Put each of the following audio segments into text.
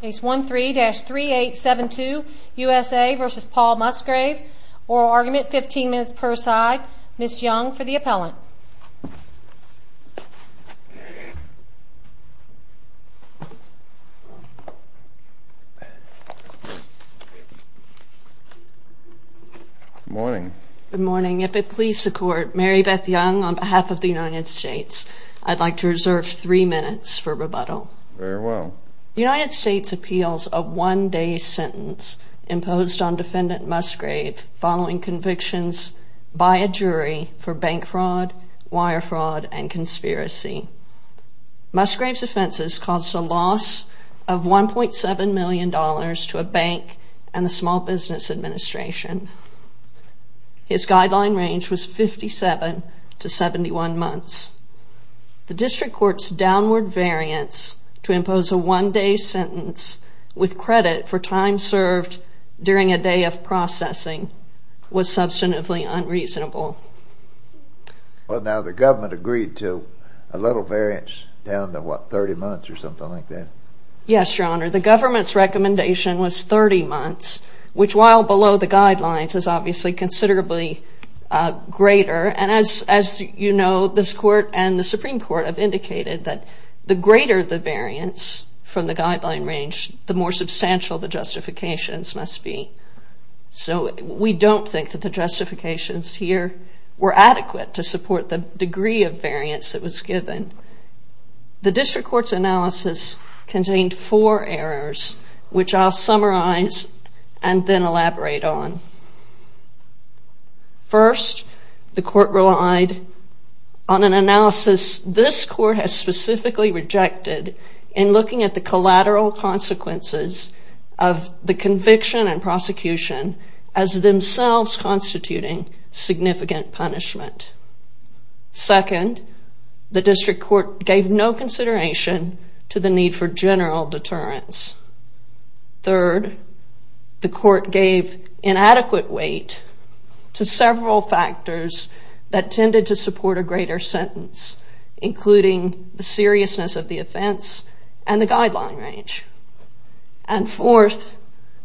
Case 13-3872 U.S.A. v. Paul Musgrave. Oral argument, 15 minutes per side. Ms. Young for the appellant. Good morning. Good morning. If it please the Court, Mary Beth Young on behalf of the United States. I'd like to reserve three minutes for rebuttal. Very well. The United States appeals a one-day sentence imposed on defendant Musgrave following convictions by a jury for bank fraud, wire fraud, and conspiracy. Musgrave's offenses caused a loss of $1.7 million to a bank and the Small Business Administration. His guideline range was 57 to 71 months. The District Court's downward variance to impose a one-day sentence with credit for time served during a day of processing was substantively unreasonable. Well, now the government agreed to a little variance down to, what, 30 months or something like that? Yes, Your Honor. The government's recommendation was 30 months, which while below the guidelines is obviously considerably greater. And as you know, this Court and the Supreme Court have indicated that the greater the variance from the guideline range, the more substantial the justifications must be. So we don't think that the justifications here were adequate to support the degree of variance that was given. The District Court's analysis contained four errors, which I'll summarize and then elaborate on. First, the Court relied on an analysis this Court has specifically rejected in looking at the collateral consequences of the conviction and prosecution as themselves constituting significant punishment. Second, the District Court gave no consideration to the need for general deterrence. Third, the Court gave inadequate weight to several factors that tended to support a greater sentence, including the seriousness of the offense and the guideline range. And fourth,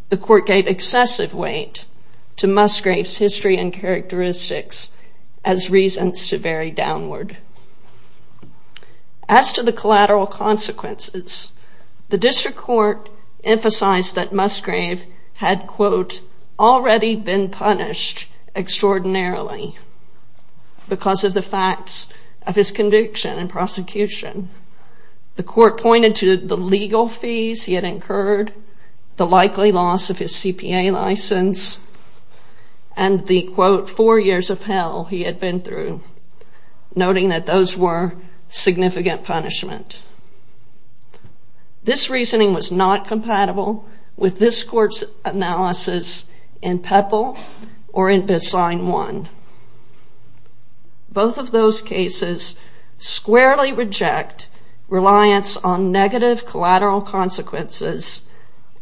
the Court gave excessive weight to Musgrave's history and characteristics as reasons to vary downward. As to the collateral consequences, the District Court emphasized that Musgrave had, quote, already been punished extraordinarily because of the facts of his conviction and prosecution. The Court pointed to the legal fees he had incurred, the likely loss of his CPA license, and the, quote, four years of hell he had been through, noting that those were significant punishment. This reasoning was not compatible with this Court's analysis in Peppel or in Bissine 1. Both of those cases squarely reject reliance on negative collateral consequences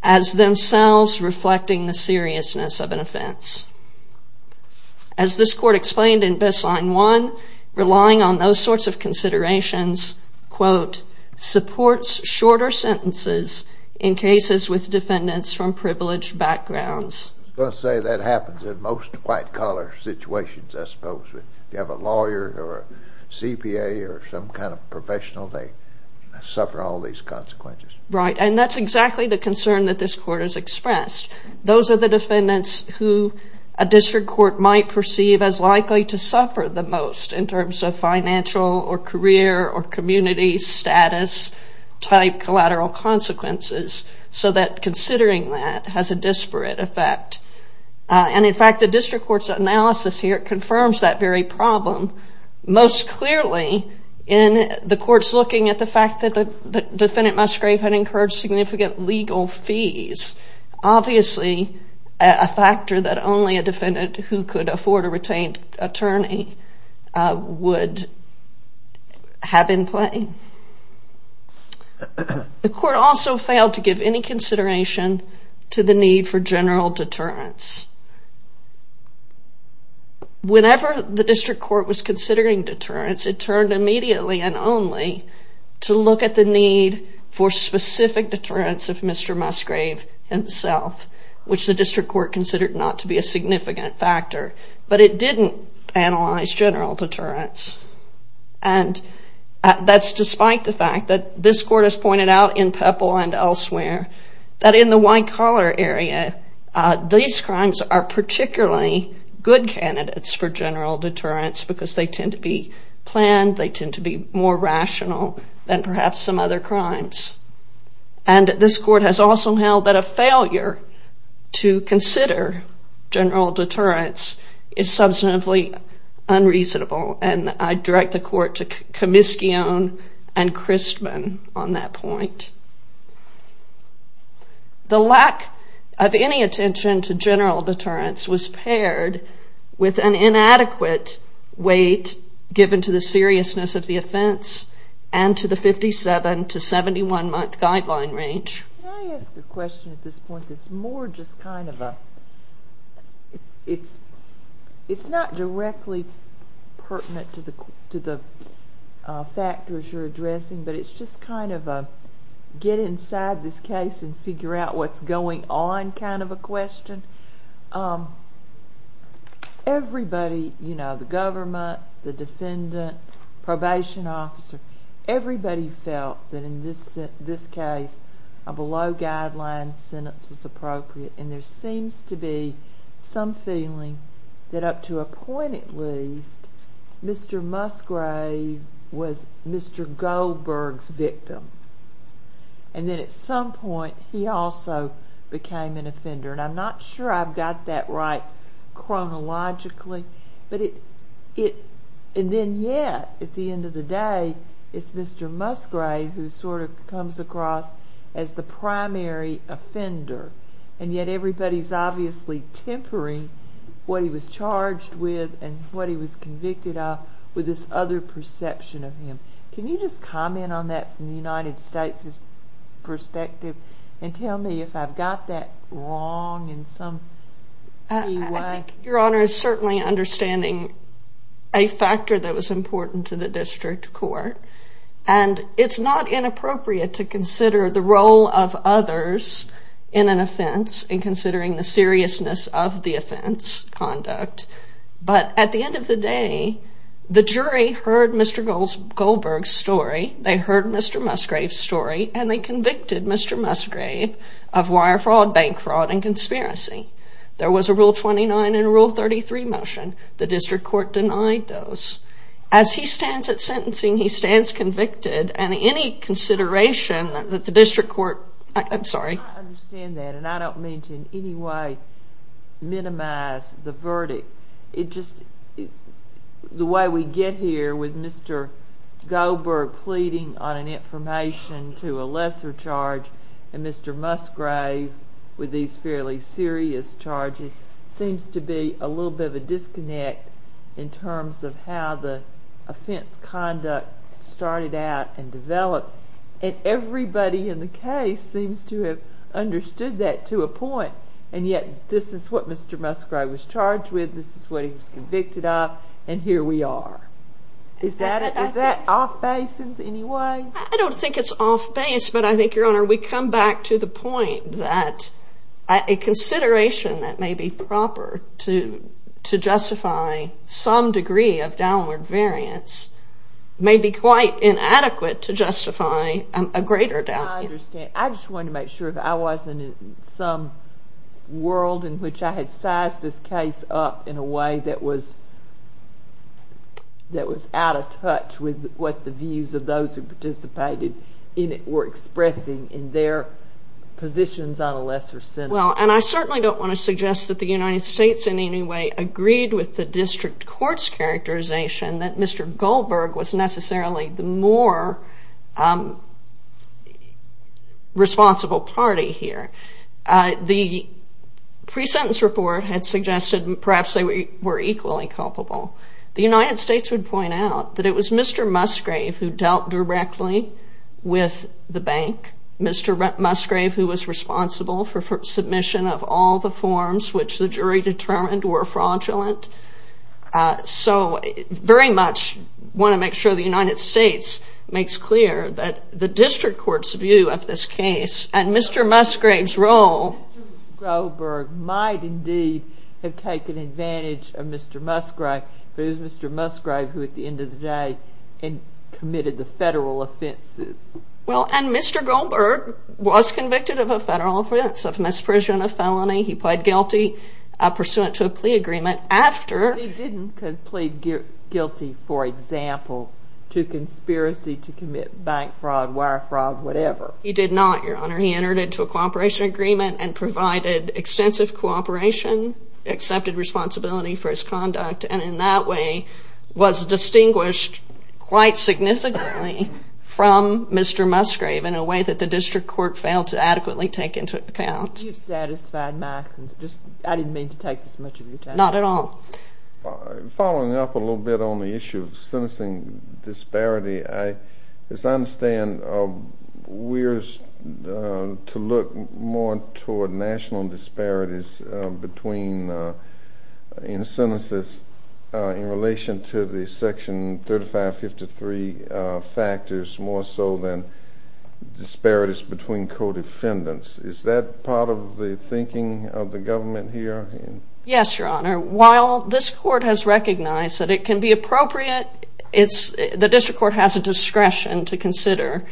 as themselves reflecting the seriousness of an offense. As this Court explained in Bissine 1, relying on those sorts of considerations, quote, supports shorter sentences in cases with defendants from privileged backgrounds. I was going to say that happens in most white-collar situations, I suppose. If you have a lawyer or a CPA or some kind of professional, they suffer all these consequences. Right, and that's exactly the concern that this Court has expressed. Those are the defendants who a District Court might perceive as likely to suffer the most in terms of financial or career or community status-type collateral consequences, so that considering that has a disparate effect. And, in fact, the District Court's analysis here confirms that very problem, most clearly in the courts looking at the fact that the defendant Musgrave had incurred significant legal fees, obviously a factor that only a defendant who could afford a retained attorney would have in play. The Court also failed to give any consideration to the need for general deterrence. Whenever the District Court was considering deterrence, it turned immediately and only to look at the need for specific deterrence of Mr. Musgrave himself, which the District Court considered not to be a significant factor. But it didn't analyze general deterrence. And that's despite the fact that this Court has pointed out in Pepple and elsewhere that in the white-collar area, these crimes are particularly good candidates for general deterrence because they tend to be planned, they tend to be more rational than perhaps some other crimes. And this Court has also held that a failure to consider general deterrence is substantively unreasonable. And I direct the Court to Comiskeone and Christman on that point. The lack of any attention to general deterrence was paired with an inadequate weight given to the seriousness of the offense and to the 57- to 71-month guideline range. Can I ask a question at this point that's more just kind of a... It's not directly pertinent to the factors you're addressing, but it's just kind of a get inside this case and figure out what's going on kind of a question. Everybody, you know, the government, the defendant, probation officer, everybody felt that in this case a below-guideline sentence was appropriate. And there seems to be some feeling that up to a point at least, Mr. Musgrave was Mr. Goldberg's victim. And then at some point he also became an offender. And I'm not sure I've got that right chronologically. And then yet at the end of the day it's Mr. Musgrave who sort of comes across as the primary offender. And yet everybody's obviously tempering what he was charged with and what he was convicted of with this other perception of him. Can you just comment on that from the United States' perspective and tell me if I've got that wrong in some key way? Your Honor is certainly understanding a factor that was important to the district court. And it's not inappropriate to consider the role of others in an offense and considering the seriousness of the offense conduct. But at the end of the day the jury heard Mr. Goldberg's story, they heard Mr. Musgrave's story, and they convicted Mr. Musgrave of wire fraud, bank fraud, and conspiracy. There was a Rule 29 and Rule 33 motion. The district court denied those. As he stands at sentencing, he stands convicted. And any consideration that the district court—I'm sorry. I understand that. And I don't mean to in any way minimize the verdict. The way we get here with Mr. Goldberg pleading on an information to a lesser charge and Mr. Musgrave with these fairly serious charges seems to be a little bit of a disconnect in terms of how the offense conduct started out and developed. And everybody in the case seems to have understood that to a point. And yet this is what Mr. Musgrave was charged with, this is what he was convicted of, and here we are. Is that off-base in any way? I don't think it's off-base, but I think, Your Honor, we come back to the point that a consideration that may be proper to justify some degree of downward variance may be quite inadequate to justify a greater down— I understand. I just wanted to make sure that I wasn't in some world in which I had sized this case up in a way that was out of touch with what the views of those who participated in it were expressing in their positions on a lesser sentence. Well, and I certainly don't want to suggest that the United States in any way agreed with the district court's characterization that Mr. Goldberg was necessarily the more responsible party here. The pre-sentence report had suggested perhaps they were equally culpable. The United States would point out that it was Mr. Musgrave who dealt directly with the bank, Mr. Musgrave who was responsible for submission of all the forms which the jury determined were fraudulent. So I very much want to make sure the United States makes clear that the district court's view of this case and Mr. Musgrave's role— Mr. Goldberg might indeed have taken advantage of Mr. Musgrave, but it was Mr. Musgrave who, at the end of the day, committed the federal offenses. Well, and Mr. Goldberg was convicted of a federal offense of misprision of felony. He pled guilty pursuant to a plea agreement after— He didn't plead guilty, for example, to conspiracy to commit bank fraud, wire fraud, whatever. He did not, Your Honor. He entered into a cooperation agreement and provided extensive cooperation, accepted responsibility for his conduct, and in that way was distinguished quite significantly from Mr. Musgrave in a way that the district court failed to adequately take into account. I think you've satisfied my—I didn't mean to take this much of your time. Not at all. Following up a little bit on the issue of sentencing disparity, as I understand, we're to look more toward national disparities between—in sentences in relation to the Section 3553 factors more so than disparities between co-defendants. Is that part of the thinking of the government here? Yes, Your Honor. While this court has recognized that it can be appropriate, the district court has a discretion to consider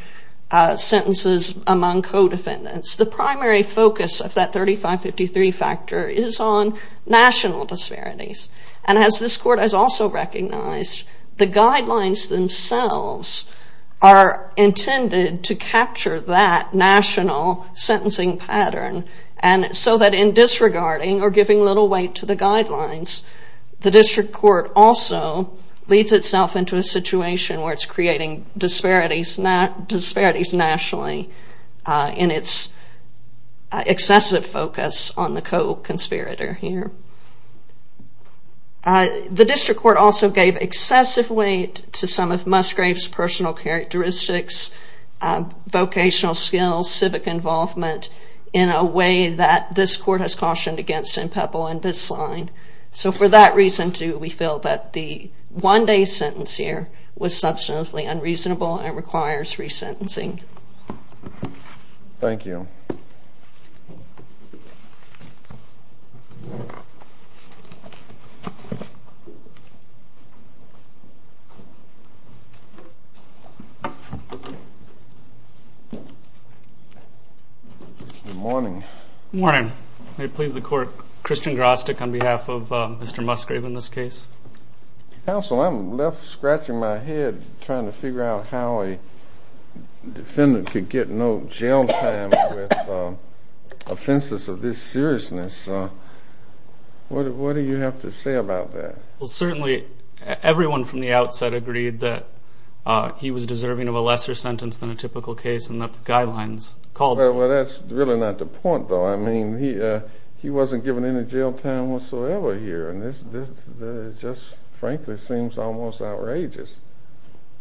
sentences among co-defendants. The primary focus of that 3553 factor is on national disparities. And as this court has also recognized, the guidelines themselves are intended to capture that national sentencing pattern so that in disregarding or giving little weight to the guidelines, the district court also leads itself into a situation where it's creating disparities nationally in its excessive focus on the co-conspirator here. The district court also gave excessive weight to some of Musgrave's personal characteristics, vocational skills, civic involvement in a way that this court has cautioned against in Pebble and Bisline. So for that reason, too, we feel that the one-day sentence here was substantially unreasonable and requires resentencing. Thank you. Thank you. Good morning. Good morning. May it please the Court, Christian Grostick on behalf of Mr. Musgrave in this case. Counsel, I'm left scratching my head trying to figure out how a defendant could get no jail time with offenses of this seriousness. What do you have to say about that? Well, certainly everyone from the outset agreed that he was deserving of a lesser sentence than a typical case and that the guidelines called for it. Well, that's really not the point, though. I mean, he wasn't given any jail time whatsoever here, and this just frankly seems almost outrageous.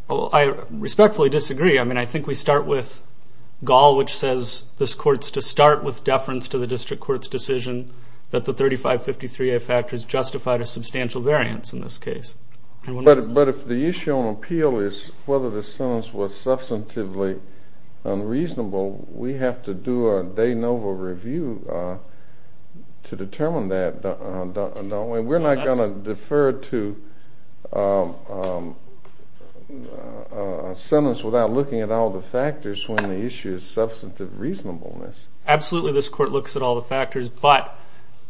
Well, I respectfully disagree. I mean, I think we start with Gall, which says, this court's to start with deference to the district court's decision that the 3553A factors justified a substantial variance in this case. But if the issue on appeal is whether the sentence was substantively unreasonable, we have to do a de novo review to determine that, don't we? We're not going to defer to a sentence without looking at all the factors when the issue is substantive reasonableness. Absolutely, this court looks at all the factors, but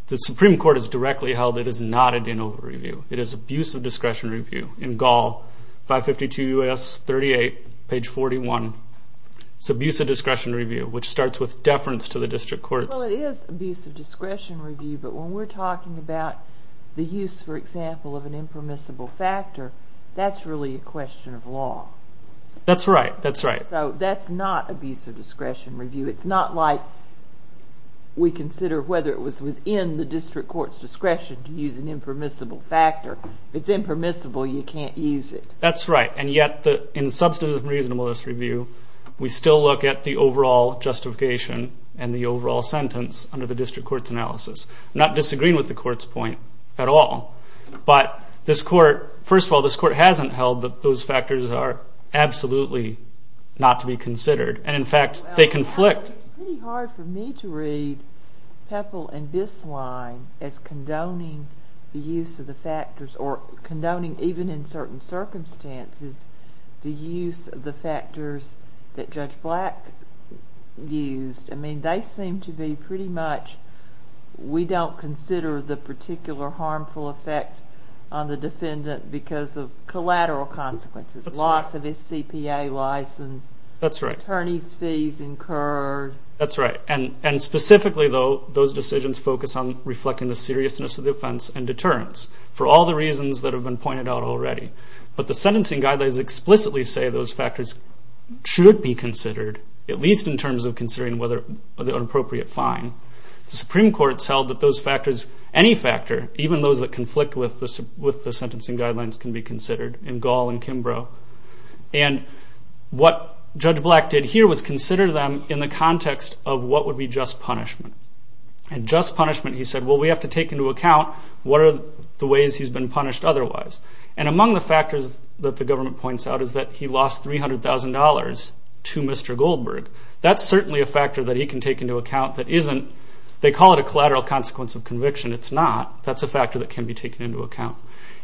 the Supreme Court has directly held it is not a de novo review. It is abuse of discretion review. In Gall, 552 U.S. 38, page 41, it's abuse of discretion review, which starts with deference to the district court's. Well, it is abuse of discretion review, but when we're talking about the use, for example, of an impermissible factor, that's really a question of law. That's right, that's right. So that's not abuse of discretion review. It's not like we consider whether it was within the district court's discretion to use an impermissible factor. If it's impermissible, you can't use it. That's right, and yet in substantive reasonableness review, we still look at the overall justification and the overall sentence under the district court's analysis, not disagreeing with the court's point at all. But this court, first of all, this court hasn't held that those factors are absolutely not to be considered. And, in fact, they conflict. It's pretty hard for me to read Pepl and Bisline as condoning the use of the factors or condoning even in certain circumstances the use of the factors that Judge Black used. I mean, they seem to be pretty much we don't consider the particular harmful effect on the defendant because of collateral consequences. Loss of his CPA license. That's right. Attorney's fees incurred. That's right, and specifically, though, those decisions focus on reflecting the seriousness of the offense and deterrence for all the reasons that have been pointed out already. But the sentencing guidelines explicitly say those factors should be considered, at least in terms of considering whether an appropriate fine. The Supreme Court has held that those factors, any factor, even those that conflict with the sentencing guidelines can be considered in Gall and Kimbrough. And what Judge Black did here was consider them in the context of what would be just punishment. And just punishment, he said, well, we have to take into account what are the ways he's been punished otherwise. And among the factors that the government points out is that he lost $300,000 to Mr. Goldberg. That's certainly a factor that he can take into account that isn't, they call it a collateral consequence of conviction. It's not. That's a factor that can be taken into account.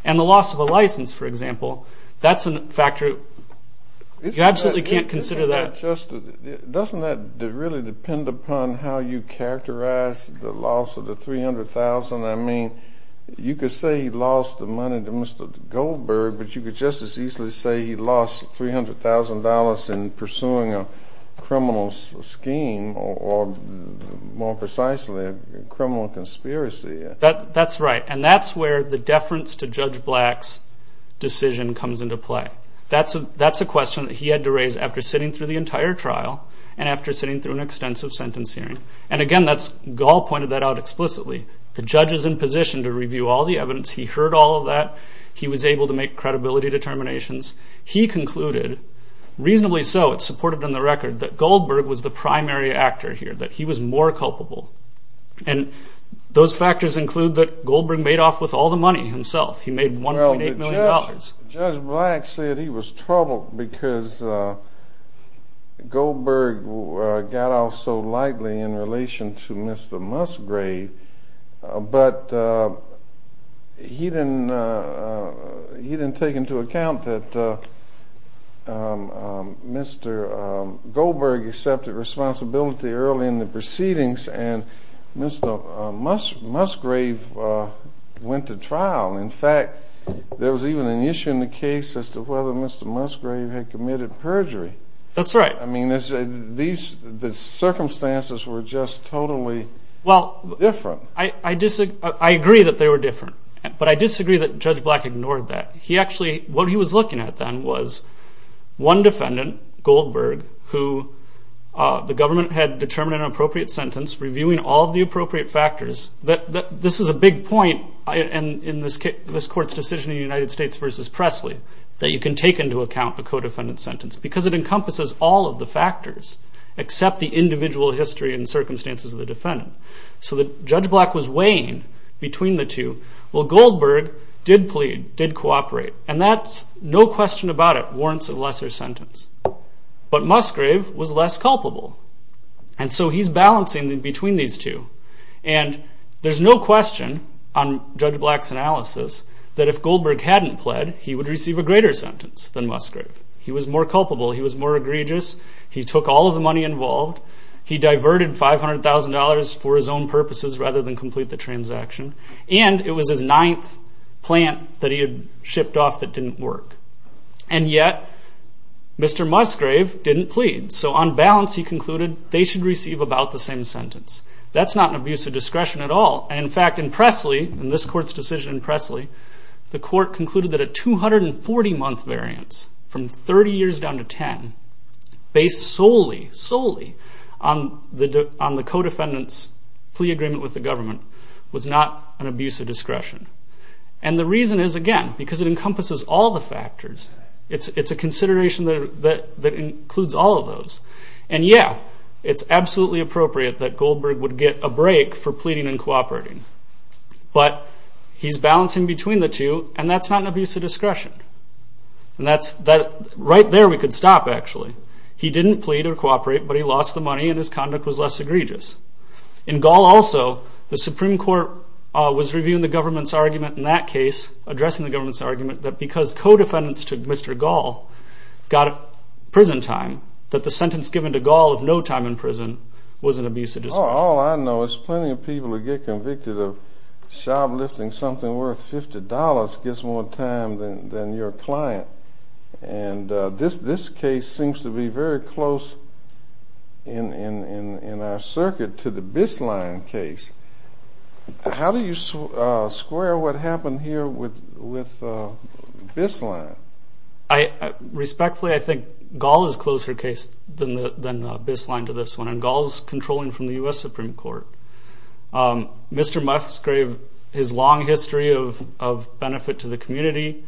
And the loss of a license, for example, that's a factor. You absolutely can't consider that. Doesn't that really depend upon how you characterize the loss of the $300,000? I mean, you could say he lost the money to Mr. Goldberg, but you could just as easily say he lost $300,000 in pursuing a criminal scheme or, more precisely, a criminal conspiracy. That's right. And that's where the deference to Judge Black's decision comes into play. That's a question that he had to raise after sitting through the entire trial and after sitting through an extensive sentence hearing. And again, Gall pointed that out explicitly. The judge is in position to review all the evidence. He heard all of that. He was able to make credibility determinations. He concluded, reasonably so, it's supported in the record, that Goldberg was the primary actor here, that he was more culpable. And those factors include that Goldberg made off with all the money himself. He made $1.8 million. Judge Black said he was troubled because Goldberg got off so lightly in relation to Mr. Musgrave, but he didn't take into account that Mr. Goldberg accepted responsibility early in the proceedings and Mr. Musgrave went to trial. In fact, there was even an issue in the case as to whether Mr. Musgrave had committed perjury. That's right. The circumstances were just totally different. I agree that they were different, but I disagree that Judge Black ignored that. What he was looking at then was one defendant, Goldberg, who the government had determined an appropriate sentence, reviewing all of the appropriate factors. This is a big point in this court's decision in the United States v. Presley, that you can take into account a co-defendant sentence because it encompasses all of the factors except the individual history and circumstances of the defendant. So Judge Black was weighing between the two. Well, Goldberg did plead, did cooperate, and no question about it warrants a lesser sentence. But Musgrave was less culpable, and so he's balancing between these two. And there's no question on Judge Black's analysis that if Goldberg hadn't pled, he would receive a greater sentence than Musgrave. He was more culpable, he was more egregious, he took all of the money involved, he diverted $500,000 for his own purposes rather than complete the transaction, and it was his ninth plant that he had shipped off that didn't work. And yet, Mr. Musgrave didn't plead. So on balance, he concluded they should receive about the same sentence. That's not an abuse of discretion at all. In fact, in Presley, in this court's decision in Presley, the court concluded that a 240-month variance from 30 years down to 10, based solely, solely on the co-defendant's plea agreement with the government, was not an abuse of discretion. And the reason is, again, because it encompasses all the factors. It's a consideration that includes all of those. And yeah, it's absolutely appropriate that Goldberg would get a break for pleading and cooperating. But he's balancing between the two, and that's not an abuse of discretion. Right there we could stop, actually. He didn't plead or cooperate, but he lost the money and his conduct was less egregious. In Gall also, the Supreme Court was reviewing the government's argument in that case, addressing the government's argument, that because co-defendants took Mr. Gall got prison time, that the sentence given to Gall of no time in prison was an abuse of discretion. All I know is plenty of people who get convicted of shoplifting something worth $50 gets more time than your client. And this case seems to be very close in our circuit to the Bisline case. How do you square what happened here with Bisline? Respectfully, I think Gall is closer case than Bisline to this one. Gall is controlling from the U.S. Supreme Court. Mr. Muffs gave his long history of benefit to the community.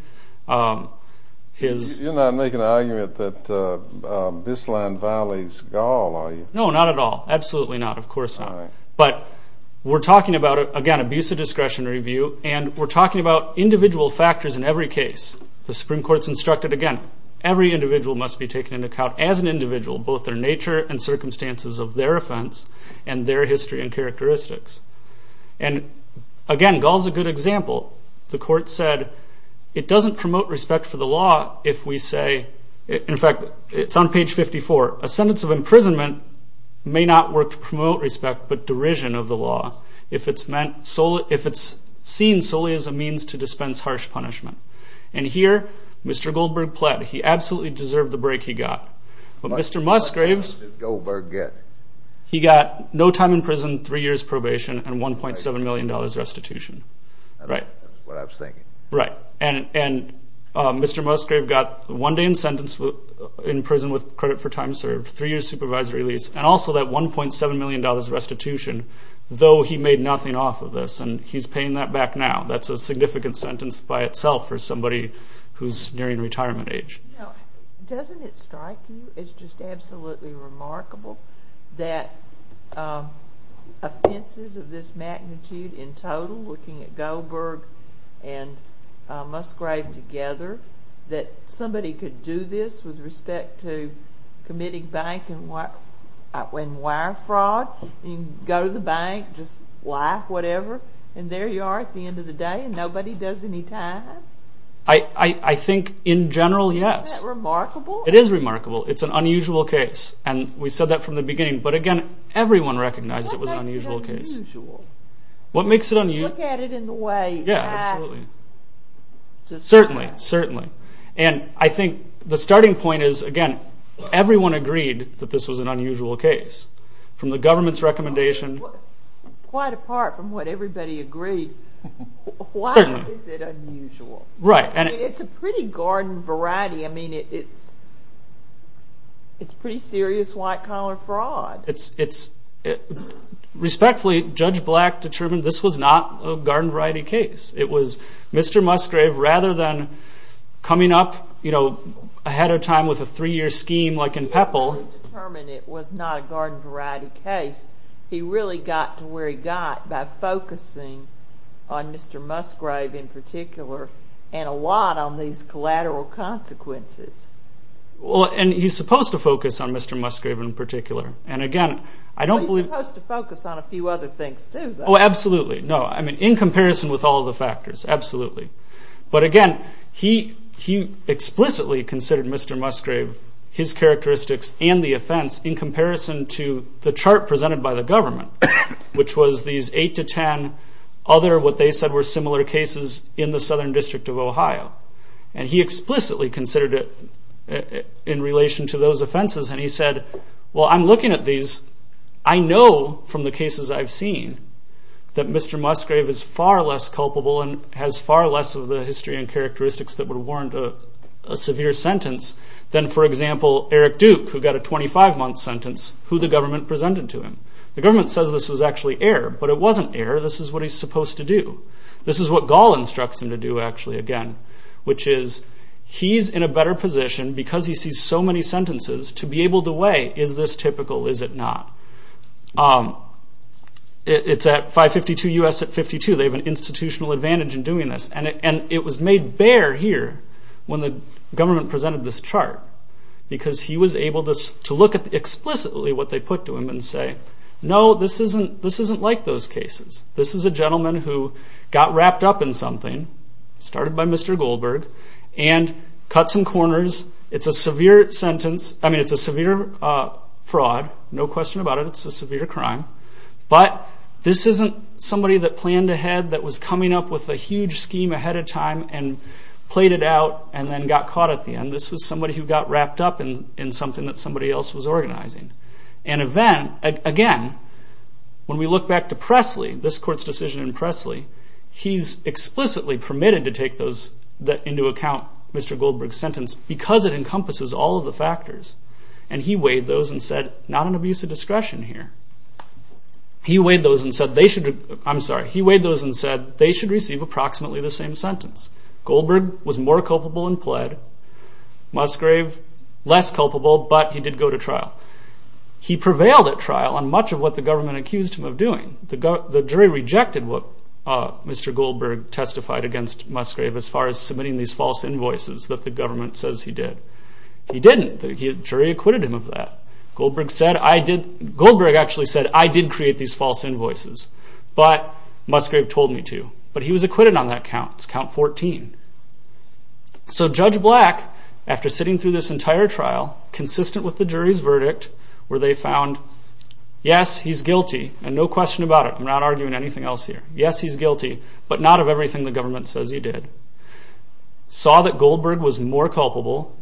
You're not making an argument that Bisline violates Gall, are you? No, not at all. Absolutely not. Of course not. But we're talking about, again, abuse of discretion review, and we're talking about individual factors in every case. The Supreme Court's instructed, again, every individual must be taken into account as an individual, both their nature and circumstances of their offense and their history and characteristics. And, again, Gall's a good example. The court said it doesn't promote respect for the law if we say, in fact, it's on page 54, a sentence of imprisonment may not work to promote respect but derision of the law if it's seen solely as a means to dispense harsh punishment. And here, Mr. Goldberg pled. He absolutely deserved the break he got. But Mr. Musgraves, he got no time in prison, three years probation, and $1.7 million restitution. That's what I was thinking. Right. And Mr. Musgraves got one day in prison with credit for time served, three years supervisory release, and also that $1.7 million restitution, though he made nothing off of this, and he's paying that back now. That's a significant sentence by itself for somebody who's nearing retirement age. Doesn't it strike you as just absolutely remarkable that offenses of this magnitude in total, looking at Goldberg and Musgrave together, that somebody could do this with respect to committing bank and wire fraud? You can go to the bank, just lie, whatever, and there you are at the end of the day, and nobody does any time? I think in general, yes. Isn't that remarkable? It is remarkable. It's an unusual case. And we said that from the beginning. But again, everyone recognized it was an unusual case. What makes it unusual? What makes it unusual? You look at it in the way I do. Certainly, certainly. And I think the starting point is, again, everyone agreed that this was an unusual case. From the government's recommendation. Quite apart from what everybody agreed, why is it unusual? It's a pretty garden variety. It's pretty serious white-collar fraud. Respectfully, Judge Black determined this was not a garden variety case. It was Mr. Musgrave, rather than coming up ahead of time with a three-year scheme like in Pepple. He determined it was not a garden variety case. He really got to where he got by focusing on Mr. Musgrave in particular and a lot on these collateral consequences. He's supposed to focus on Mr. Musgrave in particular. He's supposed to focus on a few other things, too, though. Absolutely. In comparison with all the factors, absolutely. But again, he explicitly considered Mr. Musgrave, his characteristics, and the offense in comparison to the chart presented by the government, which was these 8 to 10 other what they said were similar cases in the Southern District of Ohio. He explicitly considered it in relation to those offenses, and he said, well, I'm looking at these. I know from the cases I've seen that Mr. Musgrave is far less culpable and has far less of the history and characteristics that would warrant a severe sentence than, for example, Eric Duke, who got a 25-month sentence, who the government presented to him. The government says this was actually error, but it wasn't error. This is what he's supposed to do. This is what Gall instructs him to do, actually, again, which is he's in a better position because he sees so many sentences to be able to weigh is this typical, is it not. It's at 552 U.S. at 52. They have an institutional advantage in doing this, and it was made bare here when the government presented this chart because he was able to look at explicitly what they put to him and say, no, this isn't like those cases. This is a gentleman who got wrapped up in something, started by Mr. Goldberg, and cut some corners. It's a severe sentence. I mean, it's a severe fraud, no question about it. It's a severe crime, but this isn't somebody that planned ahead that was coming up with a huge scheme ahead of time and played it out and then got caught at the end. This was somebody who got wrapped up in something that somebody else was organizing. Again, when we look back to Presley, this court's decision in Presley, he's explicitly permitted to take those into account, Mr. Goldberg's sentence, because it encompasses all of the factors. He weighed those and said, not an abuse of discretion here. He weighed those and said they should receive approximately the same sentence. Goldberg was more culpable in pled. Musgrave, less culpable, but he did go to trial. He prevailed at trial on much of what the government accused him of doing. The jury rejected what Mr. Goldberg testified against Musgrave as far as submitting these false invoices that the government says he did. He didn't. The jury acquitted him of that. Goldberg actually said, I did create these false invoices, but Musgrave told me to. But he was acquitted on that count. It's count 14. So Judge Black, after sitting through this entire trial, consistent with the jury's verdict where they found, yes, he's guilty, and no question about it, I'm not arguing anything else here. Yes, he's guilty, but not of everything the government says he did. Saw that Goldberg was more culpable,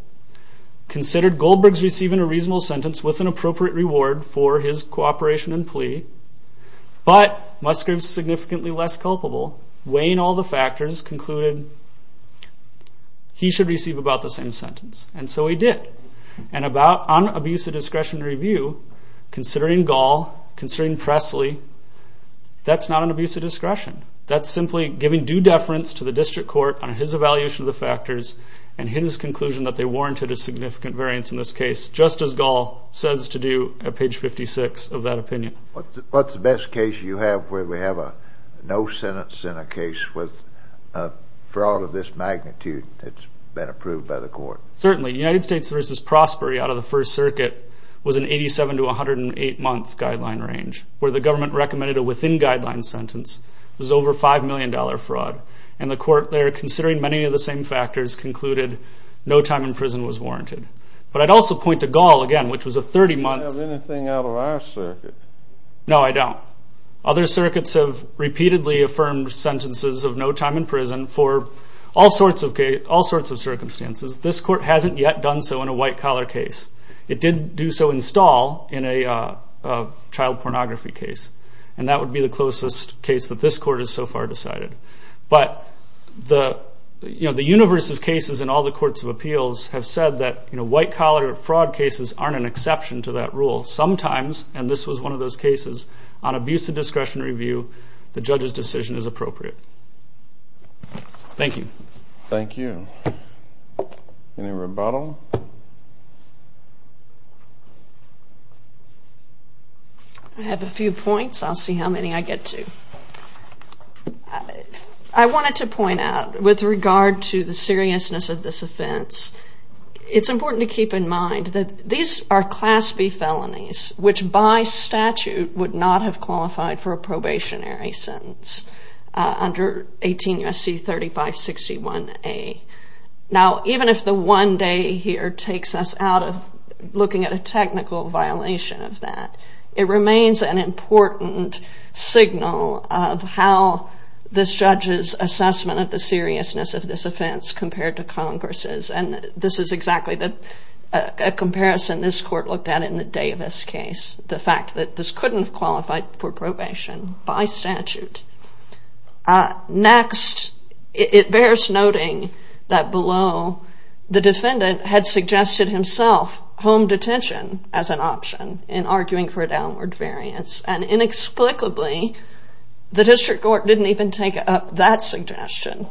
considered Goldberg's receiving a reasonable sentence with an appropriate reward for his cooperation and plea, but Musgrave's significantly less culpable, weighing all the factors, concluded he should receive about the same sentence, and so he did. And on abuse of discretion review, considering Gall, considering Presley, that's not an abuse of discretion. That's simply giving due deference to the district court on his evaluation of the factors and his conclusion that they warranted a significant variance in this case, just as Gall says to do at page 56 of that opinion. What's the best case you have where we have a no sentence in a case with a fraud of this magnitude that's been approved by the court? Certainly, United States v. Prospery out of the First Circuit was an 87 to 108-month guideline range where the government recommended a within-guideline sentence. It was over $5 million fraud, and the court there, considering many of the same factors, concluded no time in prison was warranted. But I'd also point to Gall again, which was a 30-month... Do you have anything out of our circuit? No, I don't. Other circuits have repeatedly affirmed sentences of no time in prison for all sorts of circumstances. This court hasn't yet done so in a white-collar case. It did do so in Stahl in a child pornography case, and that would be the closest case that this court has so far decided. But the universe of cases in all the courts of appeals have said that white-collar fraud cases aren't an exception to that rule. Sometimes, and this was one of those cases, on abuse of discretion review the judge's decision is appropriate. Thank you. Thank you. Any rebuttal? I have a few points. I'll see how many I get to. I wanted to point out, with regard to the seriousness of this offense, it's important to keep in mind that these are Class B felonies, which by statute would not have qualified for a probationary sentence under 18 U.S.C. 3561A. Now, even if the one day here takes us out of looking at a technical violation of that, it remains an important signal of how this judge's assessment of the seriousness of this offense compared to Congress's. And this is exactly a comparison this court looked at in the Davis case, the fact that this couldn't have qualified for probation by statute. Next, it bears noting that below, the defendant had suggested himself home detention as an option in arguing for a downward variance. And inexplicably, the district court didn't even take up that suggestion.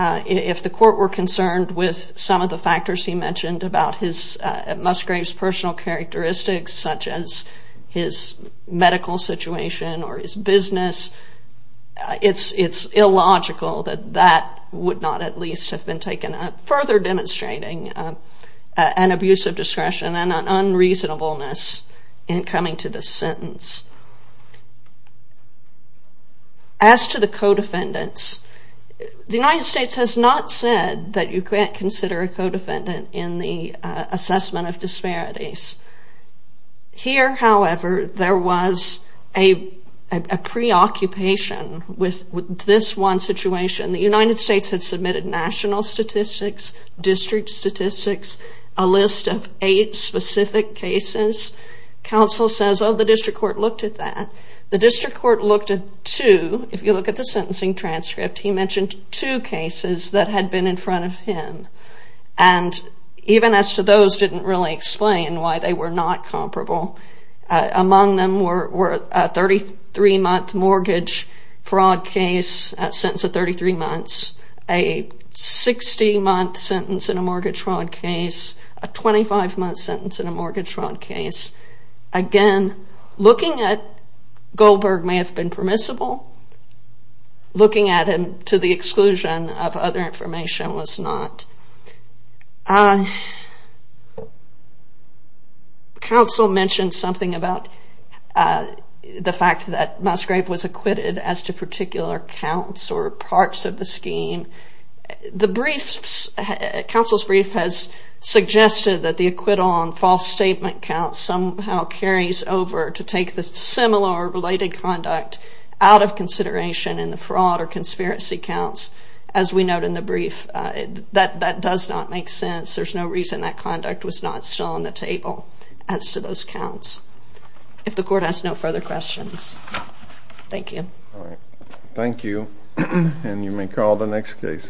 If the court were concerned with some of the factors he mentioned about Musgrave's personal characteristics, such as his medical situation or his business, it's illogical that that would not at least have been taken up, further demonstrating an abuse of discretion and an unreasonableness in coming to this sentence. As to the co-defendants, the United States has not said that you can't consider a co-defendant in the assessment of disparities. Here, however, there was a preoccupation with this one situation. The United States had submitted national statistics, district statistics, a list of eight specific cases. Counsel says, oh, the district court looked at that. The district court looked at two. If you look at the sentencing transcript, he mentioned two cases that had been in front of him. And even as to those, didn't really explain why they were not comparable. Among them were a 33-month mortgage fraud case, a sentence of 33 months, a 60-month sentence in a mortgage fraud case, a 25-month sentence in a mortgage fraud case. Again, looking at Goldberg may have been permissible. Looking at him to the exclusion of other information was not. Counsel mentioned something about the fact that Musgrave was acquitted as to particular counts or parts of the scheme. Counsel's brief has suggested that the acquittal on false statement counts somehow carries over to take the similar or related conduct out of consideration in the fraud or conspiracy counts. As we note in the brief, that does not make sense. There's no reason that conduct was not still on the table as to those counts. If the court has no further questions, thank you. Thank you, and you may call the next case.